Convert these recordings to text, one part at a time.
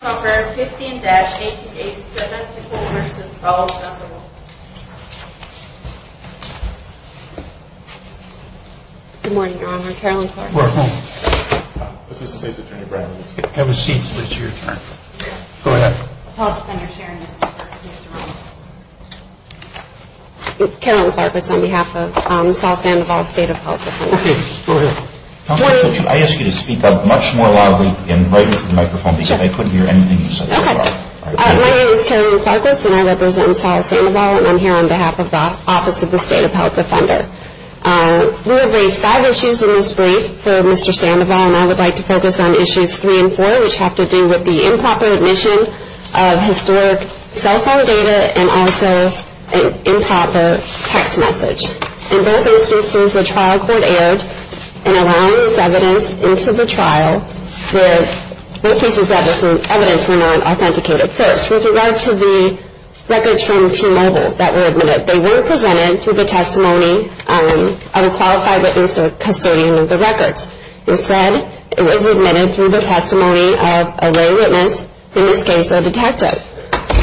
I ask you to speak up much more loudly and right in front of the microphone because I couldn't hear anything you were saying. My name is Carolyn Karkos and I represent Sol Sandoval and I'm here on behalf of the Office of the State of Health Defender. We have raised five issues in this brief for Mr. Sandoval and I would like to focus on issues three and four which have to do with the improper admission of historic cell phone data and also improper text message. In both instances, the trial court erred in allowing this evidence into the trial where both pieces of evidence were not authenticated. First, with regard to the records from T-Mobile that were admitted, they weren't presented through the testimony of a qualified witness or custodian of the records. Instead, it was admitted through the testimony of a lay witness, in this case, a detective.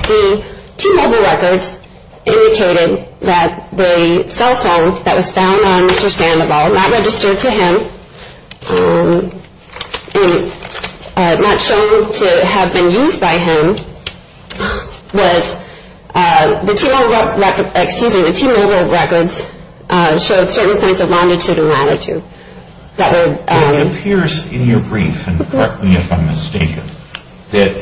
The T-Mobile records indicated that the cell phone that was found on Mr. Sandoval, not registered to him, not shown to have been used by him, was the T-Mobile records showed certain kinds of longitude and latitude. It appears in your brief, and correct me if I'm mistaken, that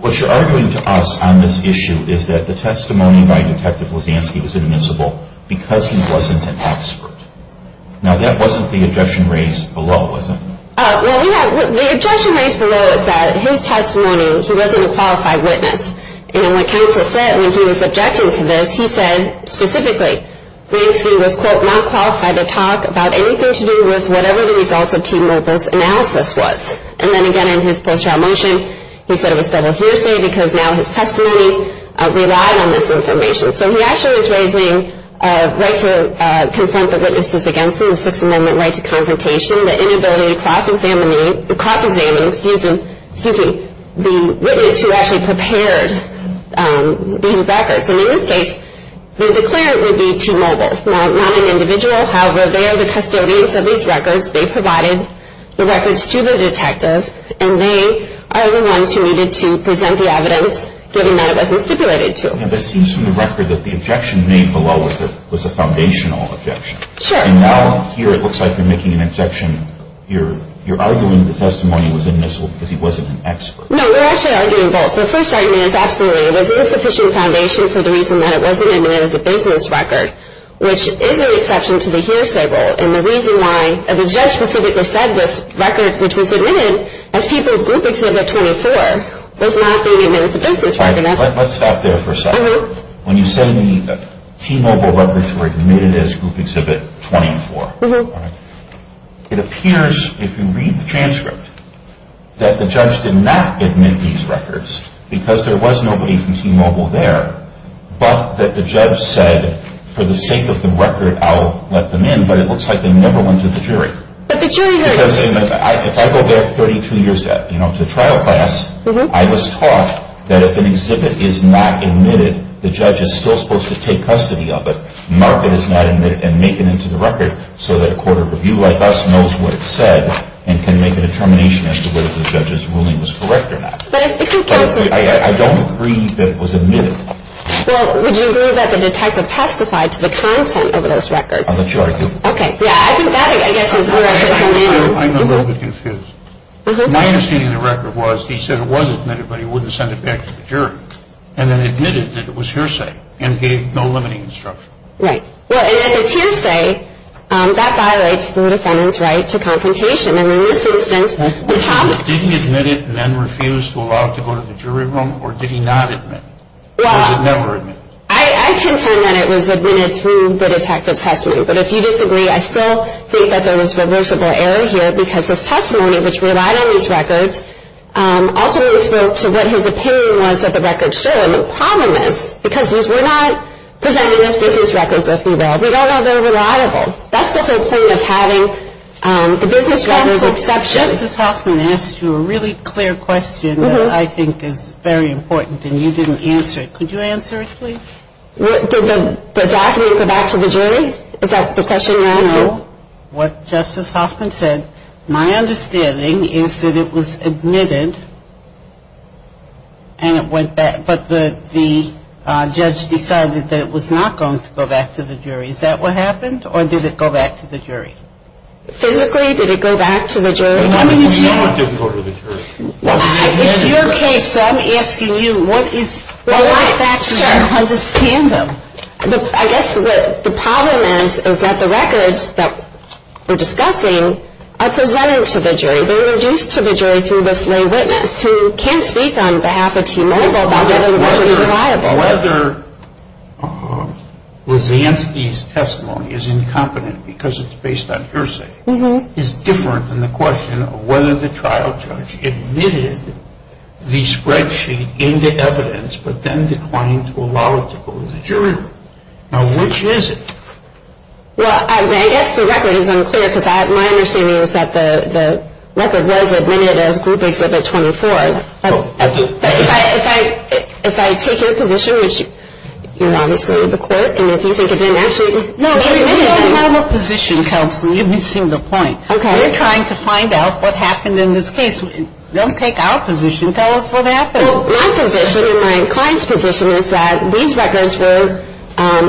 what you're arguing to us on this issue is that the testimony by Detective Blazanski was admissible because he wasn't an expert. Now, that wasn't the objection raised below, was it? Well, the objection raised below is that his testimony, he wasn't a qualified witness. And what counsel said when he was objecting to this, he said specifically, Blazanski was, quote, not qualified to talk about anything to do with whatever the results of T-Mobile's analysis was. And then again, in his post-trial motion, he said it was double hearsay because now his testimony relied on this information. So he actually was raising a right to confront the witnesses against him, the Sixth Amendment right to confrontation, the inability to cross-examine, excuse me, the witness who actually prepared these records. And in this case, the declarant would be T-Mobile, not an individual. However, they are the custodians of these records. They provided the records to the detective, and they are the ones who needed to present the evidence, given that it wasn't stipulated to them. Yeah, but it seems from the record that the objection made below was a foundational objection. Sure. And now here it looks like you're making an objection. You're arguing the testimony was admissible because he wasn't an expert. No, we're actually arguing both. The first argument is absolutely. It was an insufficient foundation for the reason that it wasn't admitted as a business record, which is an exception to the hearsay rule. And the reason why the judge specifically said this record, which was admitted as people's group exhibit 24, was not being admitted as a business record. All right, let's stop there for a second. When you say the T-Mobile records were admitted as group exhibit 24, it appears, if you read the transcript, that the judge did not admit these records because there was nobody from T-Mobile there, but that the judge said, for the sake of the record, I'll let them in. But it looks like they never went to the jury. But the jury heard it. If I go back 32 years to trial class, I was taught that if an exhibit is not admitted, the judge is still supposed to take custody of it, mark it as not admitted, and make it into the record so that a court of review like us knows what it said and can make a determination as to whether the judge's ruling was correct or not. But if the counsel – I don't agree that it was admitted. Well, would you agree that the detective testified to the content of those records? I'm not sure I do. Okay, yeah, I think that, I guess, is where I should come in. I'm a little bit confused. My understanding of the record was he said it was admitted, but he wouldn't send it back to the jury, and then admitted that it was hearsay and gave no limiting instruction. Right. Well, and if it's hearsay, that violates the defendant's right to confrontation. And in this instance, the counsel – Did he admit it and then refuse to allow it to go to the jury room, or did he not admit it? Or was it never admitted? I contend that it was admitted through the detective's testimony. But if you disagree, I still think that there was reversible error here because his testimony, which relied on these records, ultimately spoke to what his opinion was that the records showed. And the problem is because these were not presented as business records, if you will. We don't know they're reliable. That's the whole point of having the business records exception. Justice Hoffman asked you a really clear question that I think is very important, and you didn't answer it. Could you answer it, please? Did the document go back to the jury? Is that the question you're asking? No. What Justice Hoffman said, my understanding is that it was admitted, and it went back. But the judge decided that it was not going to go back to the jury. Is that what happened, or did it go back to the jury? Physically, did it go back to the jury? It did go to the jury. It's your case, so I'm asking you, what are the facts that you understand them? I guess the problem is that the records that we're discussing are presented to the jury. They're introduced to the jury through the slain witness, who can't speak on behalf of T-Mobile about whether the records are reliable. Whether Lysanski's testimony is incompetent because it's based on hearsay is different than the question of whether the trial judge admitted the spreadsheet into evidence but then declined to allow it to go to the jury. Now, which is it? Well, I guess the record is unclear, because my understanding is that the record was admitted as group exhibit 24. But if I take your position, which you're obviously the court, and if you think it didn't actually be admitted. No, we don't have a position, counsel. You're missing the point. Okay. We're trying to find out what happened in this case. Don't take our position. Tell us what happened. Well, my position and my client's position is that these records were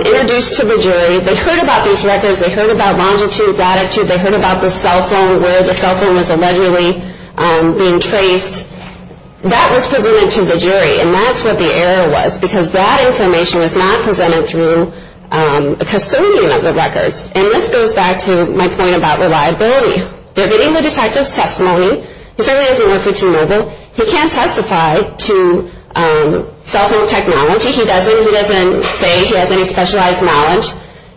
introduced to the jury. They heard about these records. They heard about longitude, latitude. They heard about the cell phone, where the cell phone was allegedly being traced. That was presented to the jury, and that's what the error was, because that information was not presented through a custodian of the records. And this goes back to my point about reliability. They're getting the detective's testimony. He certainly doesn't work for T-Mobile. He can't testify to cell phone technology. He doesn't. He doesn't say he has any specialized knowledge.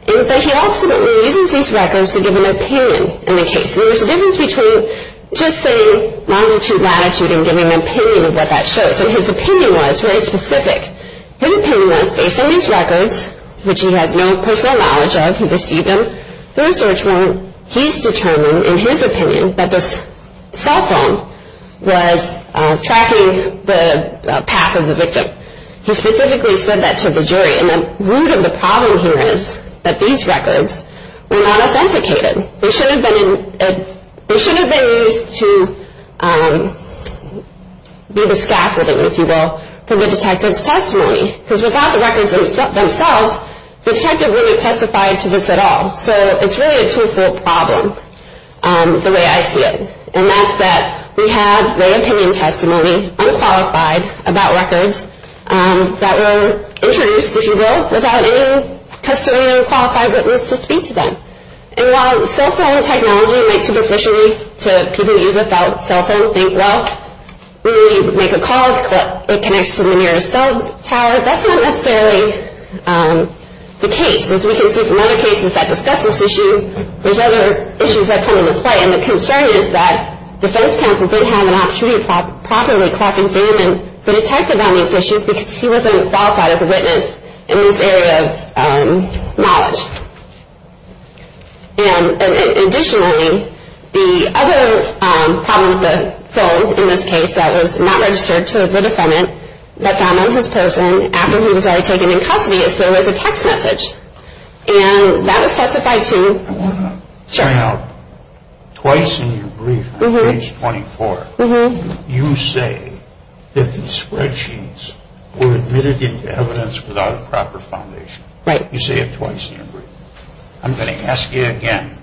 But he also uses these records to give an opinion in the case. And there's a difference between just saying longitude, latitude, and giving an opinion of what that shows. So his opinion was very specific. His opinion was based on these records, which he has no personal knowledge of. He received them through a search warrant. He's determined in his opinion that the cell phone was tracking the path of the victim. He specifically said that to the jury. And the root of the problem here is that these records were not authenticated. They shouldn't have been used to be the scaffolding, if you will, for the detective's testimony. Because without the records themselves, the detective wouldn't have testified to this at all. So it's really a two-fold problem the way I see it. And that's that we have the opinion testimony, unqualified, about records that were introduced, if you will, without any custodian or qualified witness to speak to them. And while cell phone technology might superficially to people who use a cell phone think, well, we make a call, it connects to the nearest cell tower, that's not necessarily the case. As we can see from other cases that discuss this issue, there's other issues that come into play. And the concern is that defense counsel didn't have an opportunity to properly cross-examine the detective on these issues because he wasn't qualified as a witness in this area of knowledge. And additionally, the other problem with the phone in this case that was not registered to the defendant that found on his person after he was already taken in custody is there was a text message. And that was testified to. I want to point out twice in your brief, page 24, you say that the spreadsheets were admitted into evidence without a proper foundation. Right. You say it twice in your brief. I'm going to ask you again.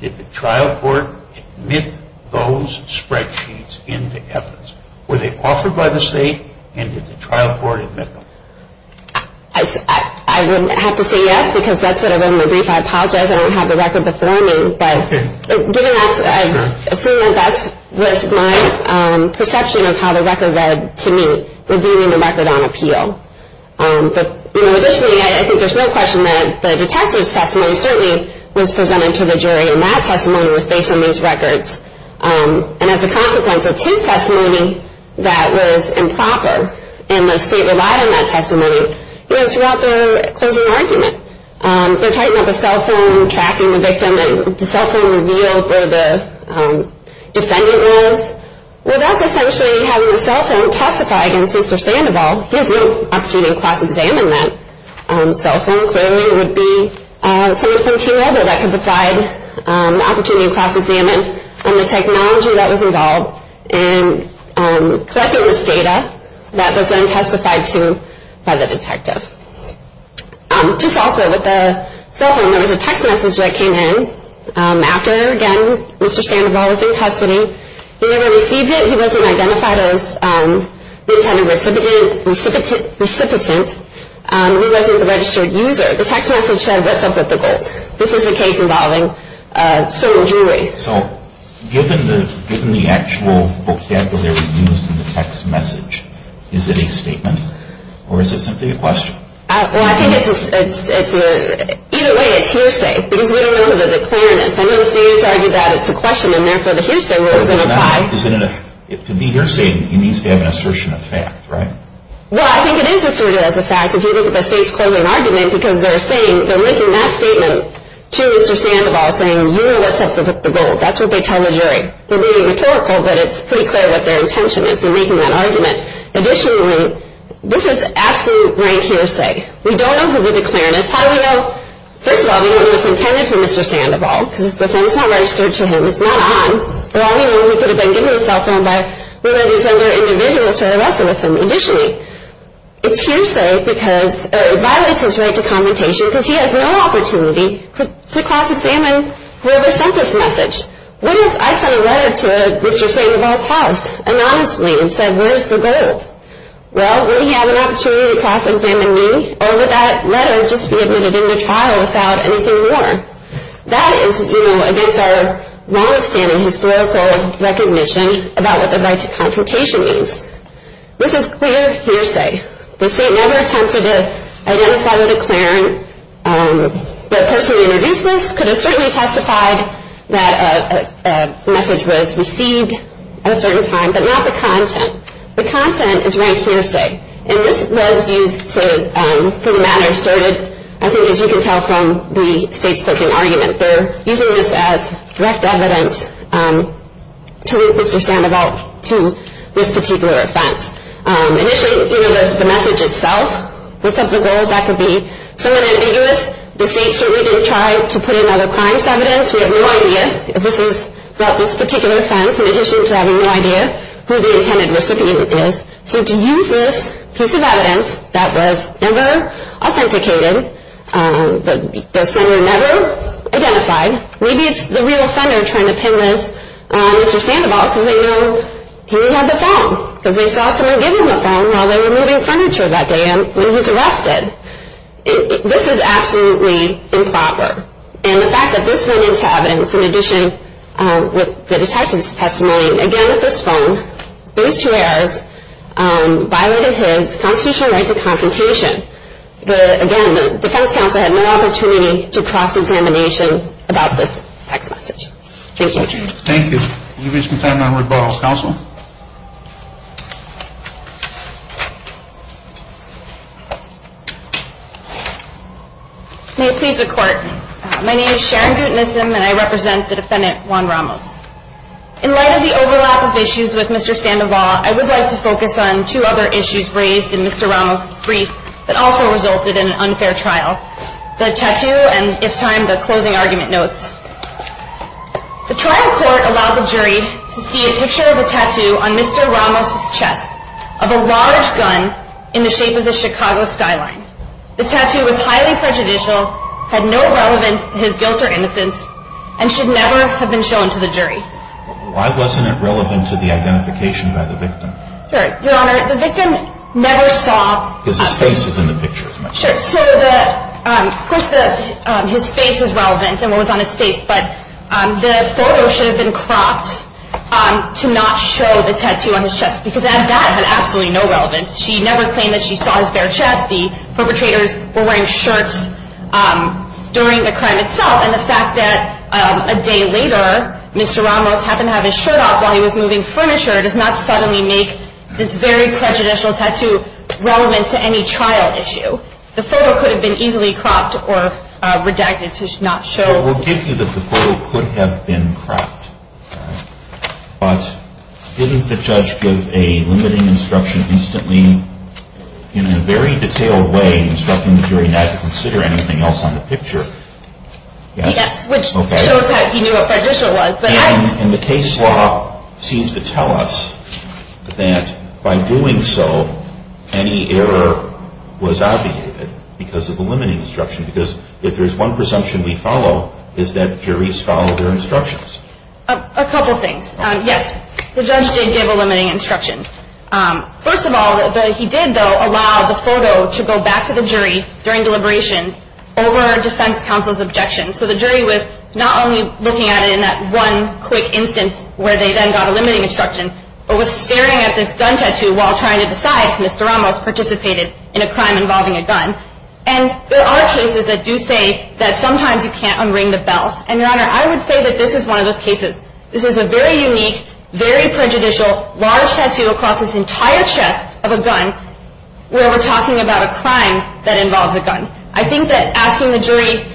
Did the trial court admit those spreadsheets into evidence? Were they offered by the state and did the trial court admit them? I would have to say yes because that's what I wrote in my brief. I apologize, I don't have the record before me. But given that, I assume that that was my perception of how the record read to me, revealing the record on appeal. But, you know, additionally, I think there's no question that the detective's testimony certainly was presented to the jury and that testimony was based on these records. And as a consequence, it's his testimony that was improper. And the state relied on that testimony throughout the closing argument. They're talking about the cell phone tracking the victim and the cell phone revealed where the defendant was. Well, that's essentially having the cell phone testify against Mr. Sandoval. He has no opportunity to cross-examine that cell phone. Clearly, it would be someone from T-Mobile that could provide the opportunity to cross-examine. And the technology that was involved in collecting this data that was then testified to by the detective. Just also with the cell phone, there was a text message that came in after, again, Mr. Sandoval was in custody. He never received it. He wasn't identified as the intended recipient. He wasn't the registered user. The text message said, what's up with the gold? This is a case involving a certain jury. Okay, so given the actual vocabulary used in the text message, is it a statement or is it simply a question? Well, I think it's a, either way, it's hearsay. Because we don't know the clearness. I know the state has argued that it's a question and therefore the hearsay wasn't applied. To be hearsay, he needs to have an assertion of fact, right? Well, I think it is asserted as a fact. If you look at the state's closing argument, because they're saying, they're linking that statement to Mr. Sandoval saying, you know what's up with the gold. That's what they tell the jury. They're being rhetorical, but it's pretty clear what their intention is in making that argument. Additionally, this is absolute rank hearsay. We don't know who did the clearness. How do we know? First of all, we don't know what's intended for Mr. Sandoval, because it's not registered to him. It's not on. But all we know, he could have been given a cell phone by one of these other individuals who had arrested with him. Additionally, it's hearsay because it violates his right to confrontation, because he has no opportunity to cross-examine whoever sent this message. What if I sent a letter to Mr. Sandoval's house anonymously and said, where's the gold? Well, would he have an opportunity to cross-examine me? Or would that letter just be admitted into trial without anything more? That is, you know, against our longstanding historical recognition about what the right to confrontation means. This is clear hearsay. The state never attempted to identify the declarant. The person who introduced this could have certainly testified that a message was received at a certain time, but not the content. The content is rank hearsay. And this was used for the matter asserted, I think, as you can tell from the state's posing argument. They're using this as direct evidence to link Mr. Sandoval to this particular offense. Initially, you know, the message itself was of the gold. That could be somewhat ambiguous. The state certainly didn't try to put in other crimes evidence. We have no idea if this is about this particular offense, in addition to having no idea who the intended recipient is. So to use this piece of evidence that was never authenticated, the sender never identified, maybe it's the real offender trying to pin this on Mr. Sandoval, because they know he only had the phone, because they saw someone give him the phone while they were moving furniture that day when he was arrested. This is absolutely improper. And the fact that this went into evidence, in addition with the detective's testimony, again with this phone, those two errors violated his constitutional right to confrontation. Again, the defense counsel had no opportunity to cross-examination about this text message. Thank you. Thank you. We'll give you some time now to rebuttal. Counsel? May it please the Court. My name is Sharon Gutenissim, and I represent the defendant, Juan Ramos. In light of the overlap of issues with Mr. Sandoval, I would like to focus on two other issues raised in Mr. Ramos' brief that also resulted in an unfair trial, the tattoo and, if timed, the closing argument notes. The trial court allowed the jury to see a picture of a tattoo on Mr. Ramos' chest of a large gun in the shape of the Chicago skyline. The tattoo was highly prejudicial, had no relevance to his guilt or innocence, and should never have been shown to the jury. Why wasn't it relevant to the identification by the victim? Your Honor, the victim never saw. Because his face is in the picture, isn't it? Sure. So, of course, his face is relevant and what was on his face, but the photo should have been cropped to not show the tattoo on his chest, because that had absolutely no relevance. She never claimed that she saw his bare chest. The perpetrators were wearing shirts during the crime itself, and the fact that a day later Mr. Ramos happened to have his shirt off while he was moving furniture does not suddenly make this very prejudicial tattoo relevant to any trial issue. The photo could have been easily cropped or redacted to not show. Well, we'll give you that the photo could have been cropped, but didn't the judge give a limiting instruction instantly, in a very detailed way, instructing the jury not to consider anything else on the picture? Yes, which shows that he knew what prejudicial was. And the case law seems to tell us that by doing so, any error was obviated because of the limiting instruction, because if there's one presumption we follow, it's that juries follow their instructions. A couple things. Yes, the judge did give a limiting instruction. First of all, he did, though, allow the photo to go back to the jury during deliberations over a defense counsel's objection. So the jury was not only looking at it in that one quick instance where they then got a limiting instruction, but was staring at this gun tattoo while trying to decide if Mr. Ramos participated in a crime involving a gun. And there are cases that do say that sometimes you can't unring the bell. And, Your Honor, I would say that this is one of those cases. This is a very unique, very prejudicial, large tattoo across this entire chest of a gun where we're talking about a crime that involves a gun. I think that asking the jury,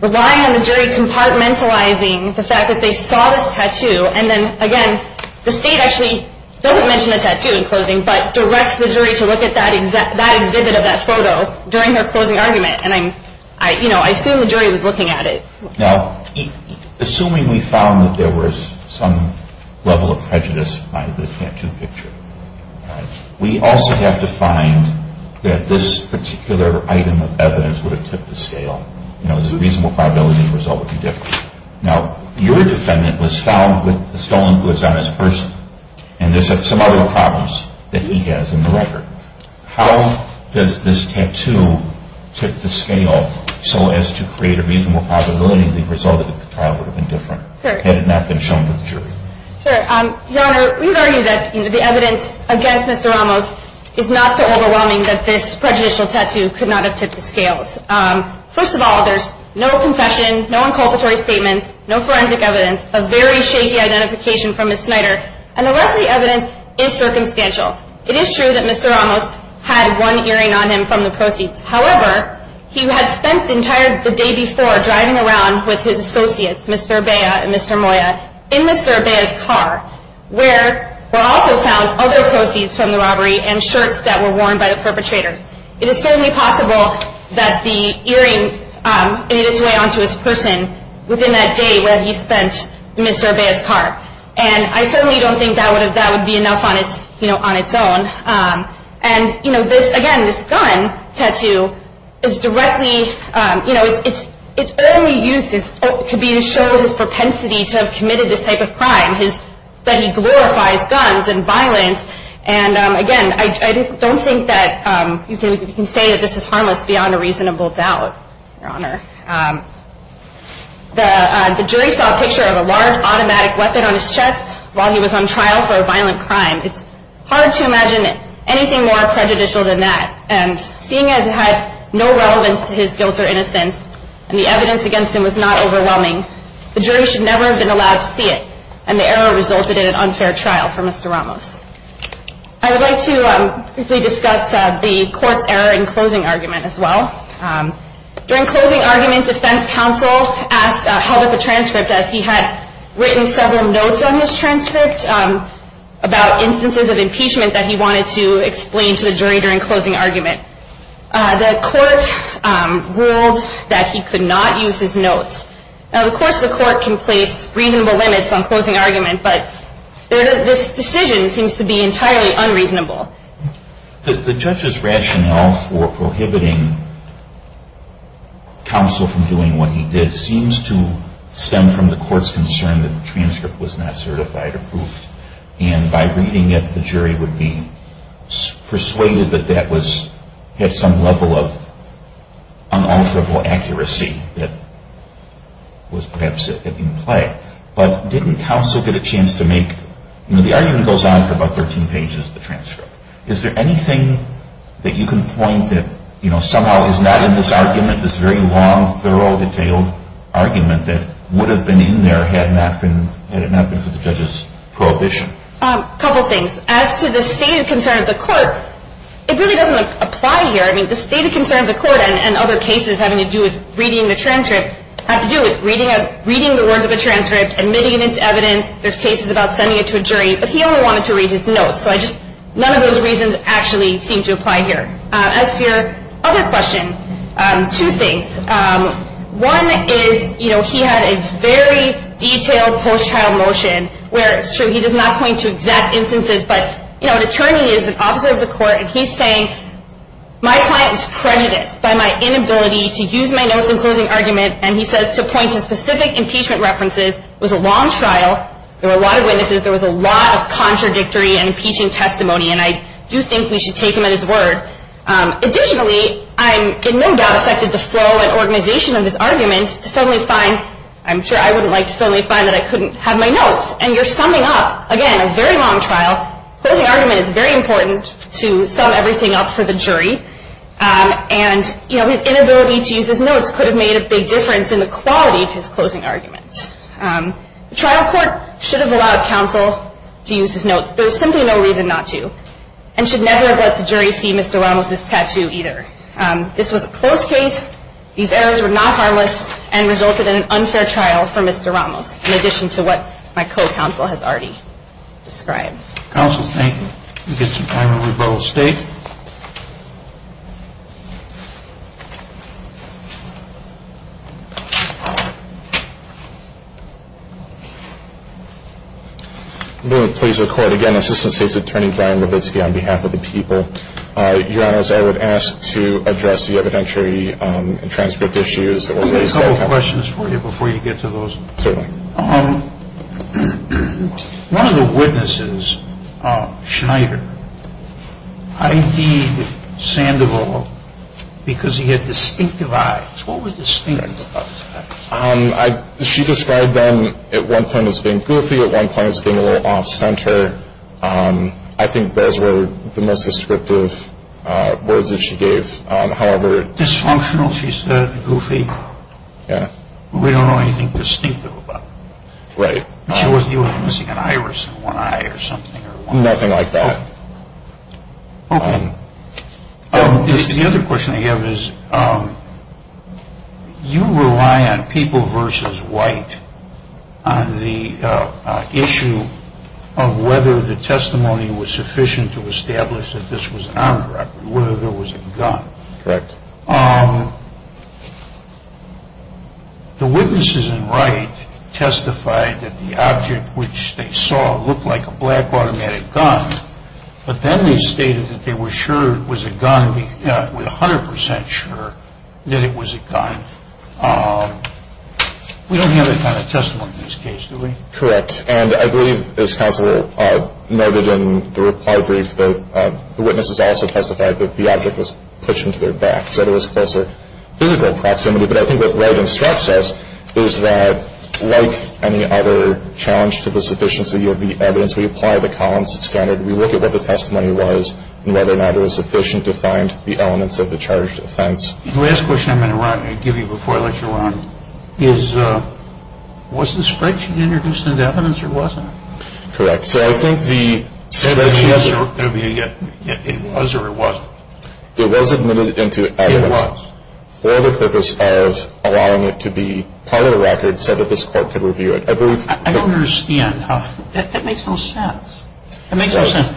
relying on the jury compartmentalizing the fact that they saw this tattoo, and then, again, the State actually doesn't mention the tattoo in closing, but directs the jury to look at that exhibit of that photo during their closing argument. And, you know, I assume the jury was looking at it. Now, assuming we found that there was some level of prejudice behind the tattoo picture, we also have to find that this particular item of evidence would have tipped the scale. You know, there's a reasonable probability the result would be different. Now, your defendant was found with the stolen goods on his person, and there's some other problems that he has in the record. How does this tattoo tip the scale so as to create a reasonable probability the result of the trial would have been different had it not been shown to the jury? Sure. Your Honor, we would argue that the evidence against Mr. Ramos is not so overwhelming that this prejudicial tattoo could not have tipped the scales. First of all, there's no confession, no inculpatory statements, no forensic evidence, a very shaky identification from Ms. Snyder, and the rest of the evidence is circumstantial. It is true that Mr. Ramos had one earring on him from the proceeds. However, he had spent the entire day before driving around with his associates, Mr. Urbea and Mr. Moya, in Mr. Urbea's car, where were also found other proceeds from the robbery and shirts that were worn by the perpetrators. It is certainly possible that the earring made its way onto his person within that day where he spent in Mr. Urbea's car. And I certainly don't think that would be enough on its own. And, you know, this, again, this gun tattoo is directly, you know, it's early use could be to show his propensity to have committed this type of crime, that he glorifies guns and violence. And, again, I don't think that you can say that this is harmless beyond a reasonable doubt, Your Honor. The jury saw a picture of a large automatic weapon on his chest while he was on trial for a violent crime. It's hard to imagine anything more prejudicial than that. And seeing as it had no relevance to his guilt or innocence, and the evidence against him was not overwhelming, the jury should never have been allowed to see it, and the error resulted in an unfair trial for Mr. Ramos. I would like to briefly discuss the court's error in closing argument as well. During closing argument, defense counsel held up a transcript, as he had written several notes on his transcript about instances of impeachment that he wanted to explain to the jury during closing argument. The court ruled that he could not use his notes. Now, of course, the court can place reasonable limits on closing argument, but this decision seems to be entirely unreasonable. The judge's rationale for prohibiting counsel from doing what he did seems to stem from the court's concern that the transcript was not certified or proofed, and by reading it, the jury would be persuaded that that had some level of unalterable accuracy that was perhaps in play. But didn't counsel get a chance to make, you know, the argument goes on for about 13 pages, the transcript. Is there anything that you can point that, you know, somehow is not in this argument, this very long, thorough, detailed argument that would have been in there had it not been for the judge's prohibition? A couple things. As to the stated concern of the court, it really doesn't apply here. I mean, the stated concern of the court and other cases having to do with reading the transcript have to do with reading the words of a transcript, admitting it as evidence. There's cases about sending it to a jury, but he only wanted to read his notes. So none of those reasons actually seem to apply here. As to your other question, two things. One is, you know, he had a very detailed post-trial motion where, it's true, he does not point to exact instances, but, you know, an attorney is an officer of the court, and he's saying, my client was prejudiced by my inability to use my notes in closing argument, and he says to point to specific impeachment references was a long trial. There were a lot of witnesses. There was a lot of contradictory and impeaching testimony, and I do think we should take him at his word. Additionally, I'm in no doubt affected the flow and organization of this argument to suddenly find, I'm sure I wouldn't like to suddenly find that I couldn't have my notes. And you're summing up, again, a very long trial. Closing argument is very important to sum everything up for the jury. And, you know, his inability to use his notes could have made a big difference in the quality of his closing argument. The trial court should have allowed counsel to use his notes. There's simply no reason not to, and should never have let the jury see Mr. Ramos's tattoo either. This was a closed case. These errors were not harmless and resulted in an unfair trial for Mr. Ramos, in addition to what my co-counsel has already described. Counsel, thank you. We'll get some time to rebuttal. State? Please record again, Assistant State's Attorney Brian Levitsky on behalf of the people. Your Honors, I would ask to address the evidentiary and transcript issues. I have a couple of questions for you before you get to those. One of the witnesses, Schneider, ID'd Sandoval because he had distinctive eyes. What were distinctive about his eyes? She described them at one point as being goofy, at one point as being a little off-center. I think those were the most descriptive words that she gave. Dysfunctional, she said. Goofy. We don't know anything distinctive about him. Right. He was missing an iris and one eye or something. Nothing like that. Okay. The other question I have is, you rely on people versus white on the issue of whether the testimony was sufficient to establish that this was an armed robbery, whether there was a gun. Correct. The witnesses in Wright testified that the object which they saw looked like a black automatic gun, but then they stated that they were 100% sure that it was a gun. We don't have that kind of testimony in this case, do we? Correct. And I believe, as counsel noted in the reply brief, the witnesses also testified that the object was pushed into their backs, that it was closer physical proximity. But I think what Wright instructs us is that, like any other challenge to the sufficiency of the evidence, we apply the Collins standard. We look at what the testimony was and whether or not it was sufficient to find the elements of the charged offense. The last question I'm going to give you before I let you run is, was the spreadsheet introduced into evidence or wasn't it? Correct. So I think the spreadsheet... It was or it wasn't? It was admitted into evidence. It was. For the purpose of allowing it to be part of the record so that this court could review it. I don't understand. That makes no sense. It makes no sense.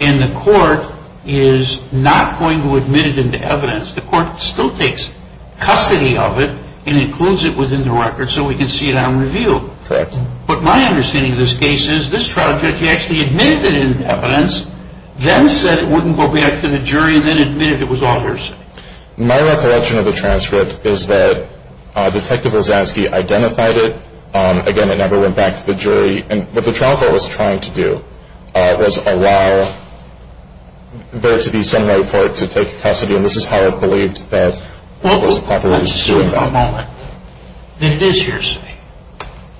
And the court is not going to admit it into evidence. The court still takes custody of it and includes it within the record so we can see it on review. Correct. But my understanding of this case is this trial judge actually admitted it into evidence, then said it wouldn't go back to the jury, and then admitted it was all hearsay. My recollection of the transcript is that Detective Wazowski identified it. Again, it never went back to the jury. What the trial court was trying to do was allow there to be some note for it to take custody, and this is how it believed that it was properly doing that. Let's assume for a moment that it is hearsay,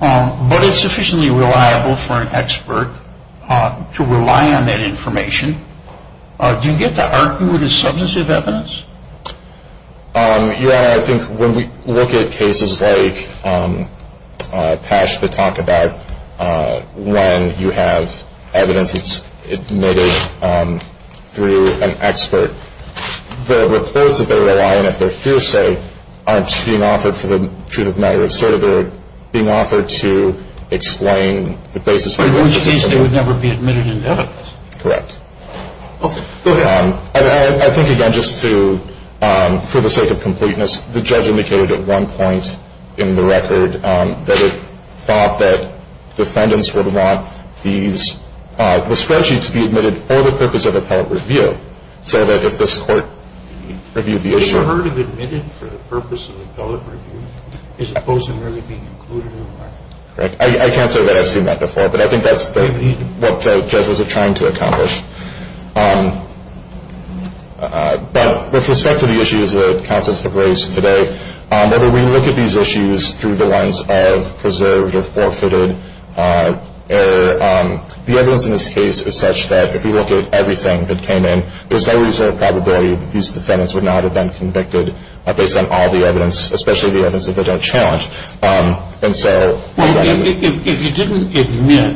but it's sufficiently reliable for an expert to rely on that information. Do you get to argue it as substantive evidence? Your Honor, I think when we look at cases like Pash, the talk about when you have evidence that's admitted through an expert, the reports that they rely on if they're hearsay aren't being offered for the truth of the matter. It's sort of being offered to explain the basis for the evidence. Which means they would never be admitted into evidence. Correct. Okay, go ahead. I think, again, just for the sake of completeness, the judge indicated at one point in the record that it thought that defendants would want the spreadsheet to be admitted for the purpose of appellate review, so that if this court reviewed the issue— It should have been admitted for the purpose of appellate review, as opposed to merely being included in the market. Correct. I can't say that I've seen that before, but I think that's what judges are trying to accomplish. But with respect to the issues that counsels have raised today, whether we look at these issues through the lens of preserved or forfeited error, the evidence in this case is such that if we look at everything that came in, there's no reason or probability that these defendants would not have been convicted based on all the evidence, especially the evidence that they don't challenge. If you didn't admit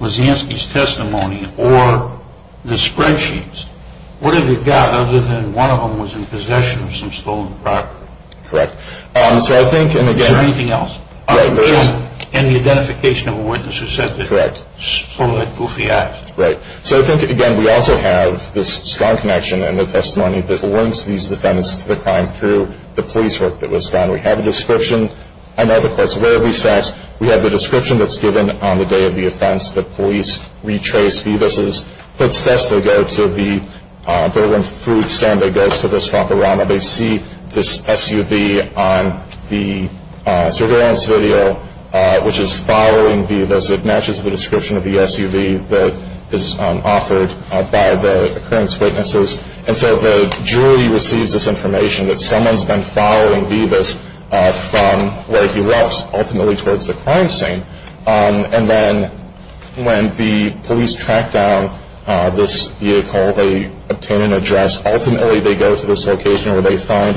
Wazanski's testimony or the spreadsheets, what have you got other than one of them was in possession of some stolen property? Correct. Is there anything else? Yeah, there is. And the identification of a witness who said that he stole that goofy act. Right. So I think, again, we also have this strong connection in the testimony that links these defendants to the crime through the police work that was done. We have a description. I know the court's aware of these facts. We have the description that's given on the day of the offense. The police retrace Vivas' footsteps. They go to the Berlin food stand. They go to the swap-a-rama. They see this SUV on the surveillance video, which is following Vivas. It matches the description of the SUV that is offered by the occurrence witnesses. And so the jury receives this information that someone's been following Vivas from where he left, ultimately towards the crime scene. And then when the police track down this vehicle, they obtain an address. Ultimately, they go to this location where they find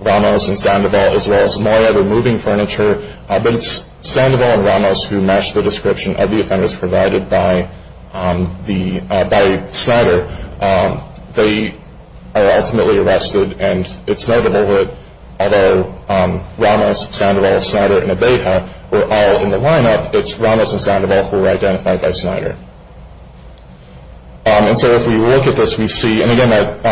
Ramos and Sandoval, as well as more other moving furniture. But it's Sandoval and Ramos who match the description of the offenders provided by Snyder. They are ultimately arrested, and it's not a bullet, although Ramos, Sandoval, Snyder, and Abeja were all in the lineup. It's Ramos and Sandoval who were identified by Snyder. And so if we look at this, we see, and, again, that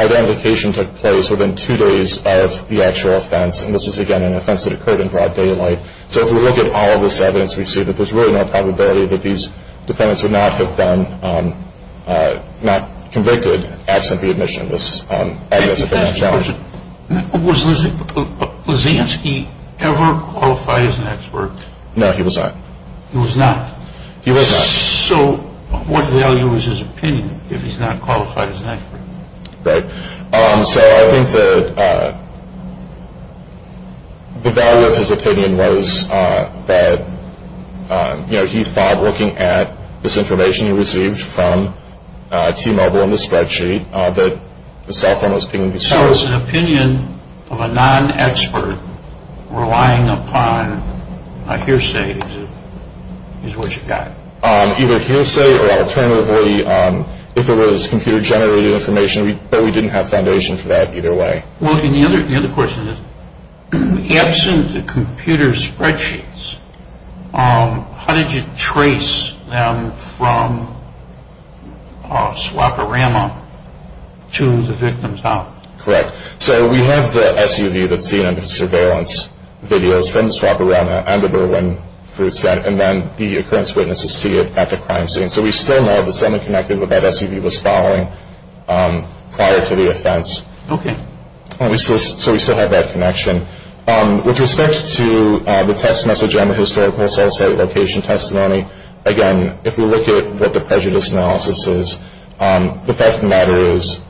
identification took place within two days of the actual offense. And this is, again, an offense that occurred in broad daylight. So if we look at all of this evidence, we see that there's really no probability that these defendants would not have been convicted absent the admission. This evidence has been challenged. Was Lisansky ever qualified as an expert? No, he was not. He was not? He was not. So what value is his opinion if he's not qualified as an expert? Right. So I think the value of his opinion was that he thought, looking at this information he received from T-Mobile and the spreadsheet, that the cell phone was being used. So is an opinion of a non-expert relying upon a hearsay is what you got? Either hearsay or alternatively, if it was computer-generated information, but we didn't have foundation for that either way. Well, the other question is, absent the computer spreadsheets, how did you trace them from Swap-O-Rama to the victim's house? Correct. So we have the SUV that's seen in the surveillance videos from Swap-O-Rama and the Berlin fruit set, and then the occurrence witnesses see it at the crime scene. So we still know that someone connected with that SUV was following prior to the offense. Okay. So we still have that connection. With respect to the text message on the historical cell site location testimony, again, if we look at what the prejudice analysis is, the fact of the matter is,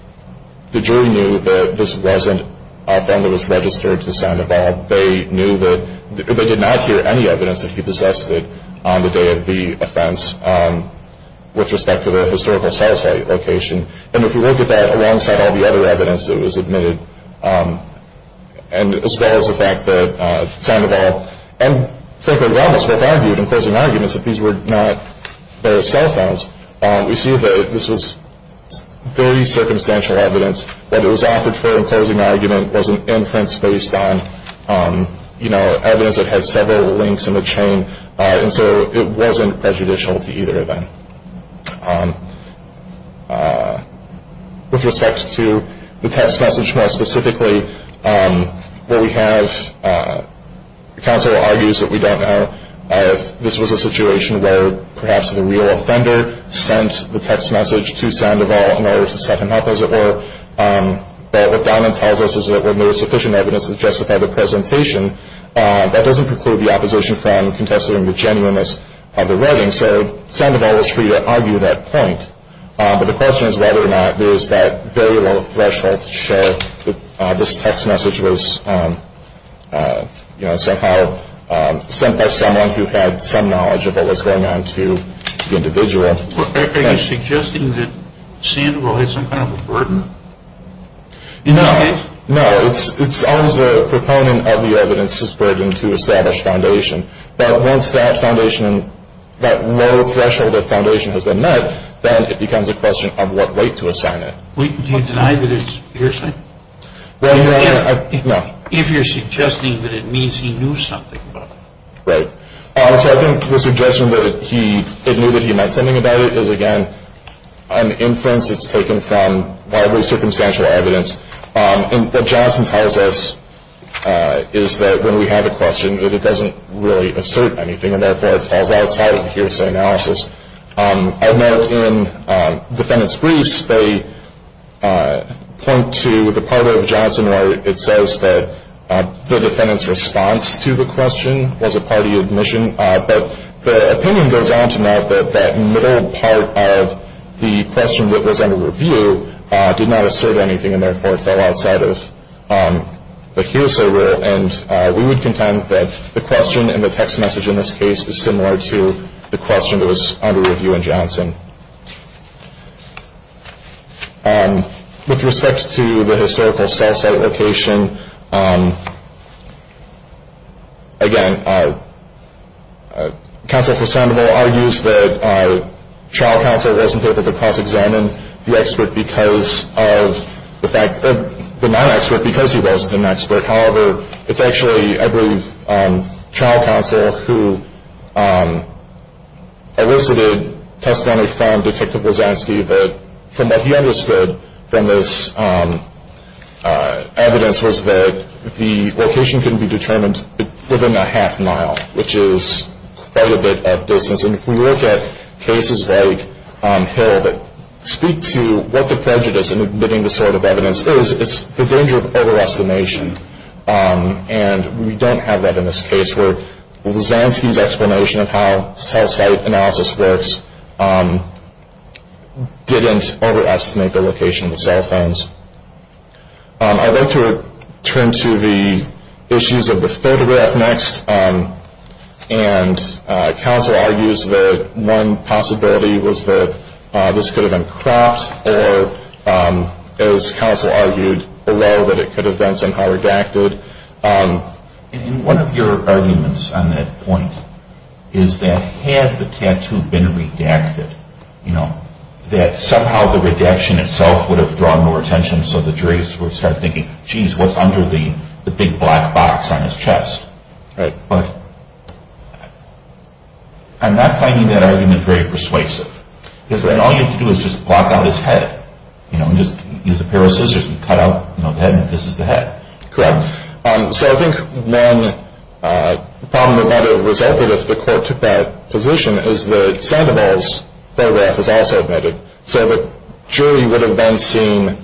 the jury knew that this wasn't a family that was registered to Sandoval. They knew that they did not hear any evidence that he possessed it on the day of the offense with respect to the historical cell site location. And if you look at that alongside all the other evidence that was admitted, as well as the fact that Sandoval and Franklin Robbins both argued in closing arguments that these were not their cell phones, we see that this was very circumstantial evidence. What it was offered for in closing argument was an inference based on, you know, evidence that had several links in the chain. And so it wasn't prejudicial to either of them. With respect to the text message more specifically, what we have, counsel argues that we don't know if this was a situation where perhaps the real offender sent the text message to Sandoval in order to set him up, as it were. But what Donovan tells us is that when there was sufficient evidence to justify the presentation, that doesn't preclude the opposition from contesting the genuineness of the writing. So Sandoval was free to argue that point. But the question is whether or not there was that very low threshold to show that this text message was, you know, somehow sent by someone who had some knowledge of what was going on to the individual. Are you suggesting that Sandoval had some kind of a burden in this case? No. No. It's always a proponent of the evidence's burden to establish foundation. But once that foundation, that low threshold of foundation has been met, then it becomes a question of what weight to assign it. Do you deny that it's your assignment? No. If you're suggesting that it means he knew something about it. Right. So I think the suggestion that he knew that he meant something about it is, again, an inference. It's taken from widely circumstantial evidence. And what Johnson tells us is that when we have a question, that it doesn't really assert anything and therefore it falls outside of the hearsay analysis. I note in defendant's briefs, they point to the part of Johnson where it says that the defendant's response to the question was a party admission, but the opinion goes on to note that that middle part of the question that was under review did not assert anything and therefore fell outside of the hearsay rule. And we would contend that the question in the text message in this case is similar to the question that was under review in Johnson. With respect to the historical cell site location, again, counsel for Sandoval argues that trial counsel wasn't able to cross-examine the non-expert because he wasn't an expert. However, it's actually, I believe, trial counsel who elicited testimony from Detective Wasansky that from what he understood from this evidence was that the location couldn't be determined within a half mile, which is quite a bit of distance. And if we look at cases like Hill that speak to what the prejudice in admitting this sort of evidence is, it's the danger of overestimation. And we don't have that in this case where Wasansky's explanation of how cell site analysis works didn't overestimate the location of the cell phones. I'd like to turn to the issues of the photograph next. And counsel argues that one possibility was that this could have been cropped, or as counsel argued below, that it could have been somehow redacted. And one of your arguments on that point is that had the tattoo been redacted, that somehow the redaction itself would have drawn more attention, so the jury would start thinking, geez, what's under the big black box on his chest? Right. But I'm not finding that argument very persuasive. All you have to do is just block out his head. Just use a pair of scissors and cut out the head, and this is the head. Correct. So I think then the problem would not have resulted if the court took that position, is that Sandoval's photograph was also admitted, so the jury would have then seen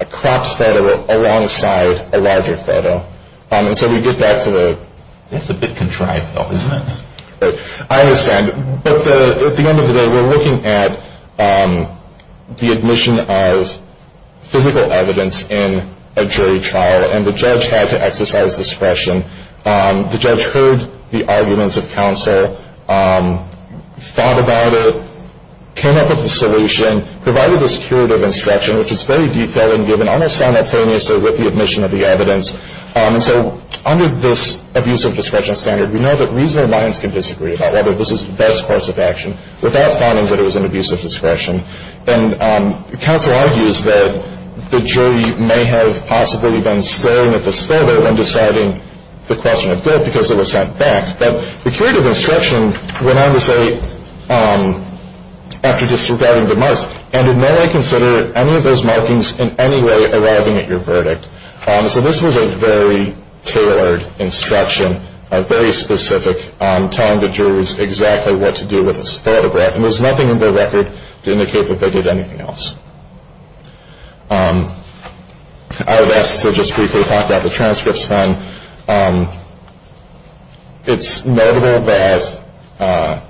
a cropped photo alongside a larger photo. And so we get back to the – That's a bit contrived, though, isn't it? I understand. But at the end of the day, we're looking at the admission of physical evidence in a jury trial, and the judge had to exercise discretion. The judge heard the arguments of counsel, thought about it, came up with a solution, provided this curative instruction, which is very detailed and given almost simultaneously with the admission of the evidence. So under this abuse of discretion standard, we know that reasonable minds can disagree about whether this is the best course of action without finding that it was an abuse of discretion. And counsel argues that the jury may have possibly been staring at this photo when deciding the question of guilt because it was sent back. But the curative instruction went on to say, after disregarding the marks, and did not consider any of those markings in any way arriving at your verdict. So this was a very tailored instruction, a very specific, telling the jurors exactly what to do with this photograph. And there's nothing in the record to indicate that they did anything else. I would ask to just briefly talk about the transcripts then. It's notable that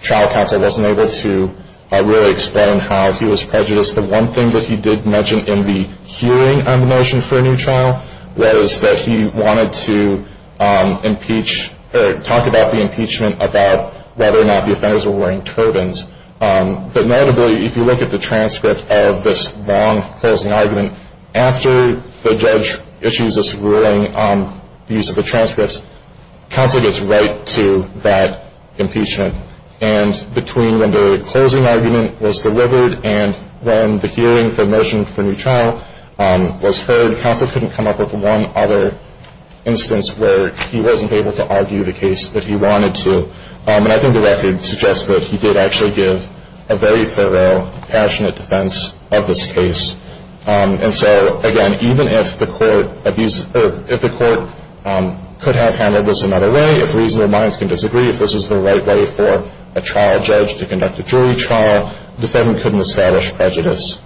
trial counsel wasn't able to really explain how he was prejudiced. The one thing that he did mention in the hearing on the motion for a new trial was that he wanted to impeach, or talk about the impeachment, about whether or not the offenders were wearing turbans. But notably, if you look at the transcript of this long closing argument, after the judge issues this ruling on the use of the transcripts, counsel gets right to that impeachment. And between when the closing argument was delivered and when the hearing for the motion for a new trial was heard, counsel couldn't come up with one other instance where he wasn't able to argue the case that he wanted to. And I think the record suggests that he did actually give a very thorough, passionate defense of this case. And so, again, even if the court could have handled this another way, if reasonable minds can disagree, if this was the right way for a trial judge to conduct a jury trial, the defendant couldn't establish prejudice.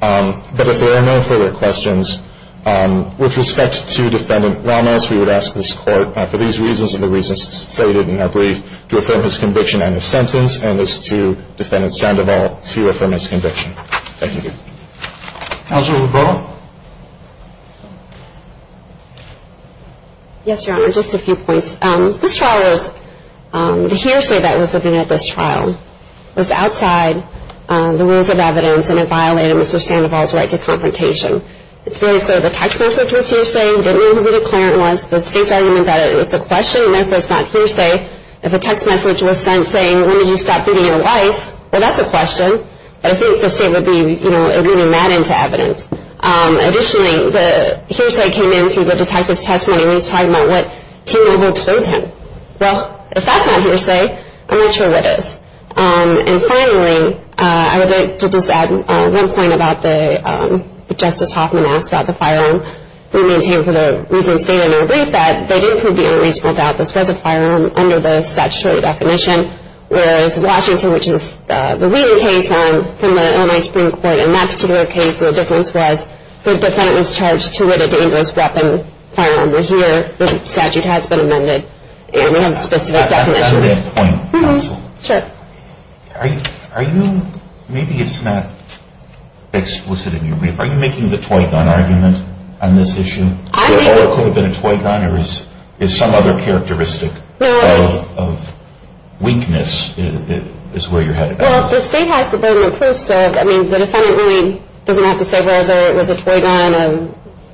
But if there are no further questions, with respect to Defendant Ramos, we would ask this court, for these reasons and the reasons stated in our brief, to affirm his conviction and his sentence, and as to Defendant Sandoval, to affirm his conviction. Thank you. Counsel LeBron? Yes, Your Honor, just a few points. This trial was, the hearsay that was at this trial, was outside the rules of evidence, and it violated Mr. Sandoval's right to confrontation. It's very clear the text message was hearsay. He didn't know who the declarant was. The state's argument that it's a question, and therefore it's not hearsay. If a text message was sent saying, when did you stop beating your wife, well, that's a question. I think the state would be, you know, alluding that into evidence. Additionally, the hearsay came in through the detective's testimony, and he's talking about what T. Noble told him. Well, if that's not hearsay, I'm not sure what is. And finally, I would like to just add one point about the Justice Hoffman asked about the firearm. We maintain for the reasons stated in our brief that they didn't prove the unreasonable doubt this was a firearm under the statutory definition, whereas Washington, which is the reading case from the Illinois Supreme Court, in that particular case, the difference was the defendant was charged to lit a dangerous weapon firearm. Here, the statute has been amended, and we have a specific definition. To add to that point, counsel, are you, maybe it's not explicit in your brief, are you making the toy gun argument on this issue? Would it also have been a toy gun, or is some other characteristic of weakness is where you're headed? Well, the state has the burden of proof, sir. I mean, the defendant really doesn't have to say whether it was a toy gun,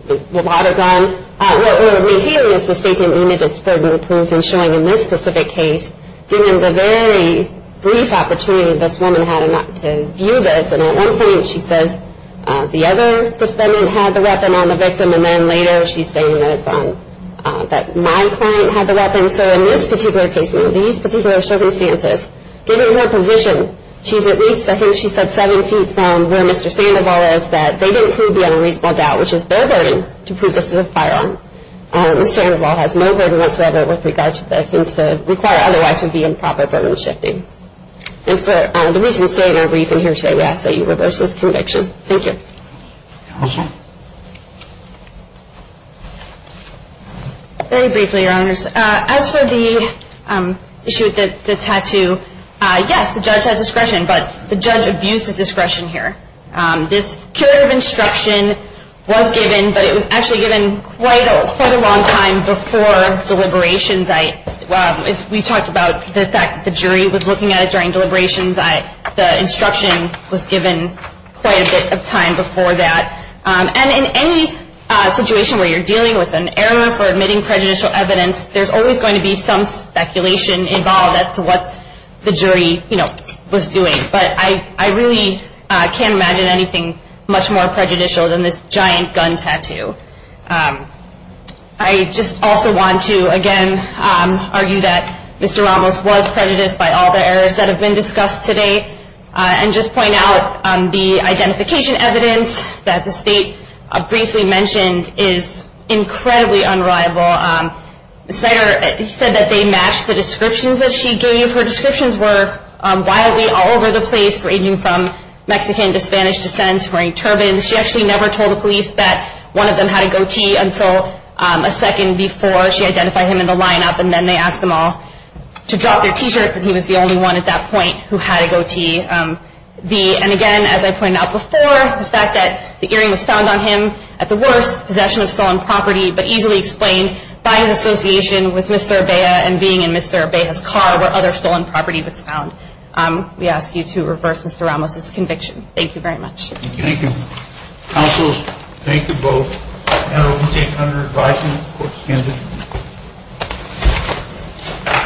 a water gun. What we're maintaining is the state's amended its burden of proof in showing in this specific case, given the very brief opportunity this woman had to view this, and at one point she says the other defendant had the weapon on the victim, and then later she's saying that my client had the weapon. So in this particular case, under these particular circumstances, given her position, she's at least, I think she said, seven feet from where Mr. Sandoval is, that they didn't prove the unreasonable doubt, which is their burden to prove this is a firearm. Mr. Sandoval has no burden whatsoever with regard to this, since the required otherwise would be improper burden shifting. And for the reasons stated in our briefing here today, we ask that you reverse this conviction. Thank you. Counsel? Very briefly, Your Honors. As for the issue with the tattoo, yes, the judge had discretion, but the judge abused his discretion here. This curative instruction was given, but it was actually given quite a long time before deliberations. We talked about the fact that the jury was looking at it during deliberations. The instruction was given quite a bit of time before that. And in any situation where you're dealing with an error for admitting prejudicial evidence, there's always going to be some speculation involved as to what the jury was doing. But I really can't imagine anything much more prejudicial than this giant gun tattoo. I just also want to, again, argue that Mr. Ramos was prejudiced by all the errors that have been discussed today and just point out the identification evidence that the State briefly mentioned is incredibly unreliable. Ms. Snyder said that they matched the descriptions that she gave. Her descriptions were wildly all over the place, ranging from Mexican to Spanish descent, wearing turbans. She actually never told the police that one of them had a goatee until a second before she identified him in the lineup, and then they asked them all to drop their T-shirts, and he was the only one at that point who had a goatee. And, again, as I pointed out before, the fact that the earring was found on him at the worst, possession of stolen property, but easily explained by his association with Mr. Urbea and being in Mr. Urbea's car where other stolen property was found. We ask you to reverse Mr. Ramos's conviction. Thank you very much. Thank you. Thank you. Counsels, thank you both. That will be taken under advisement of the court's candidate.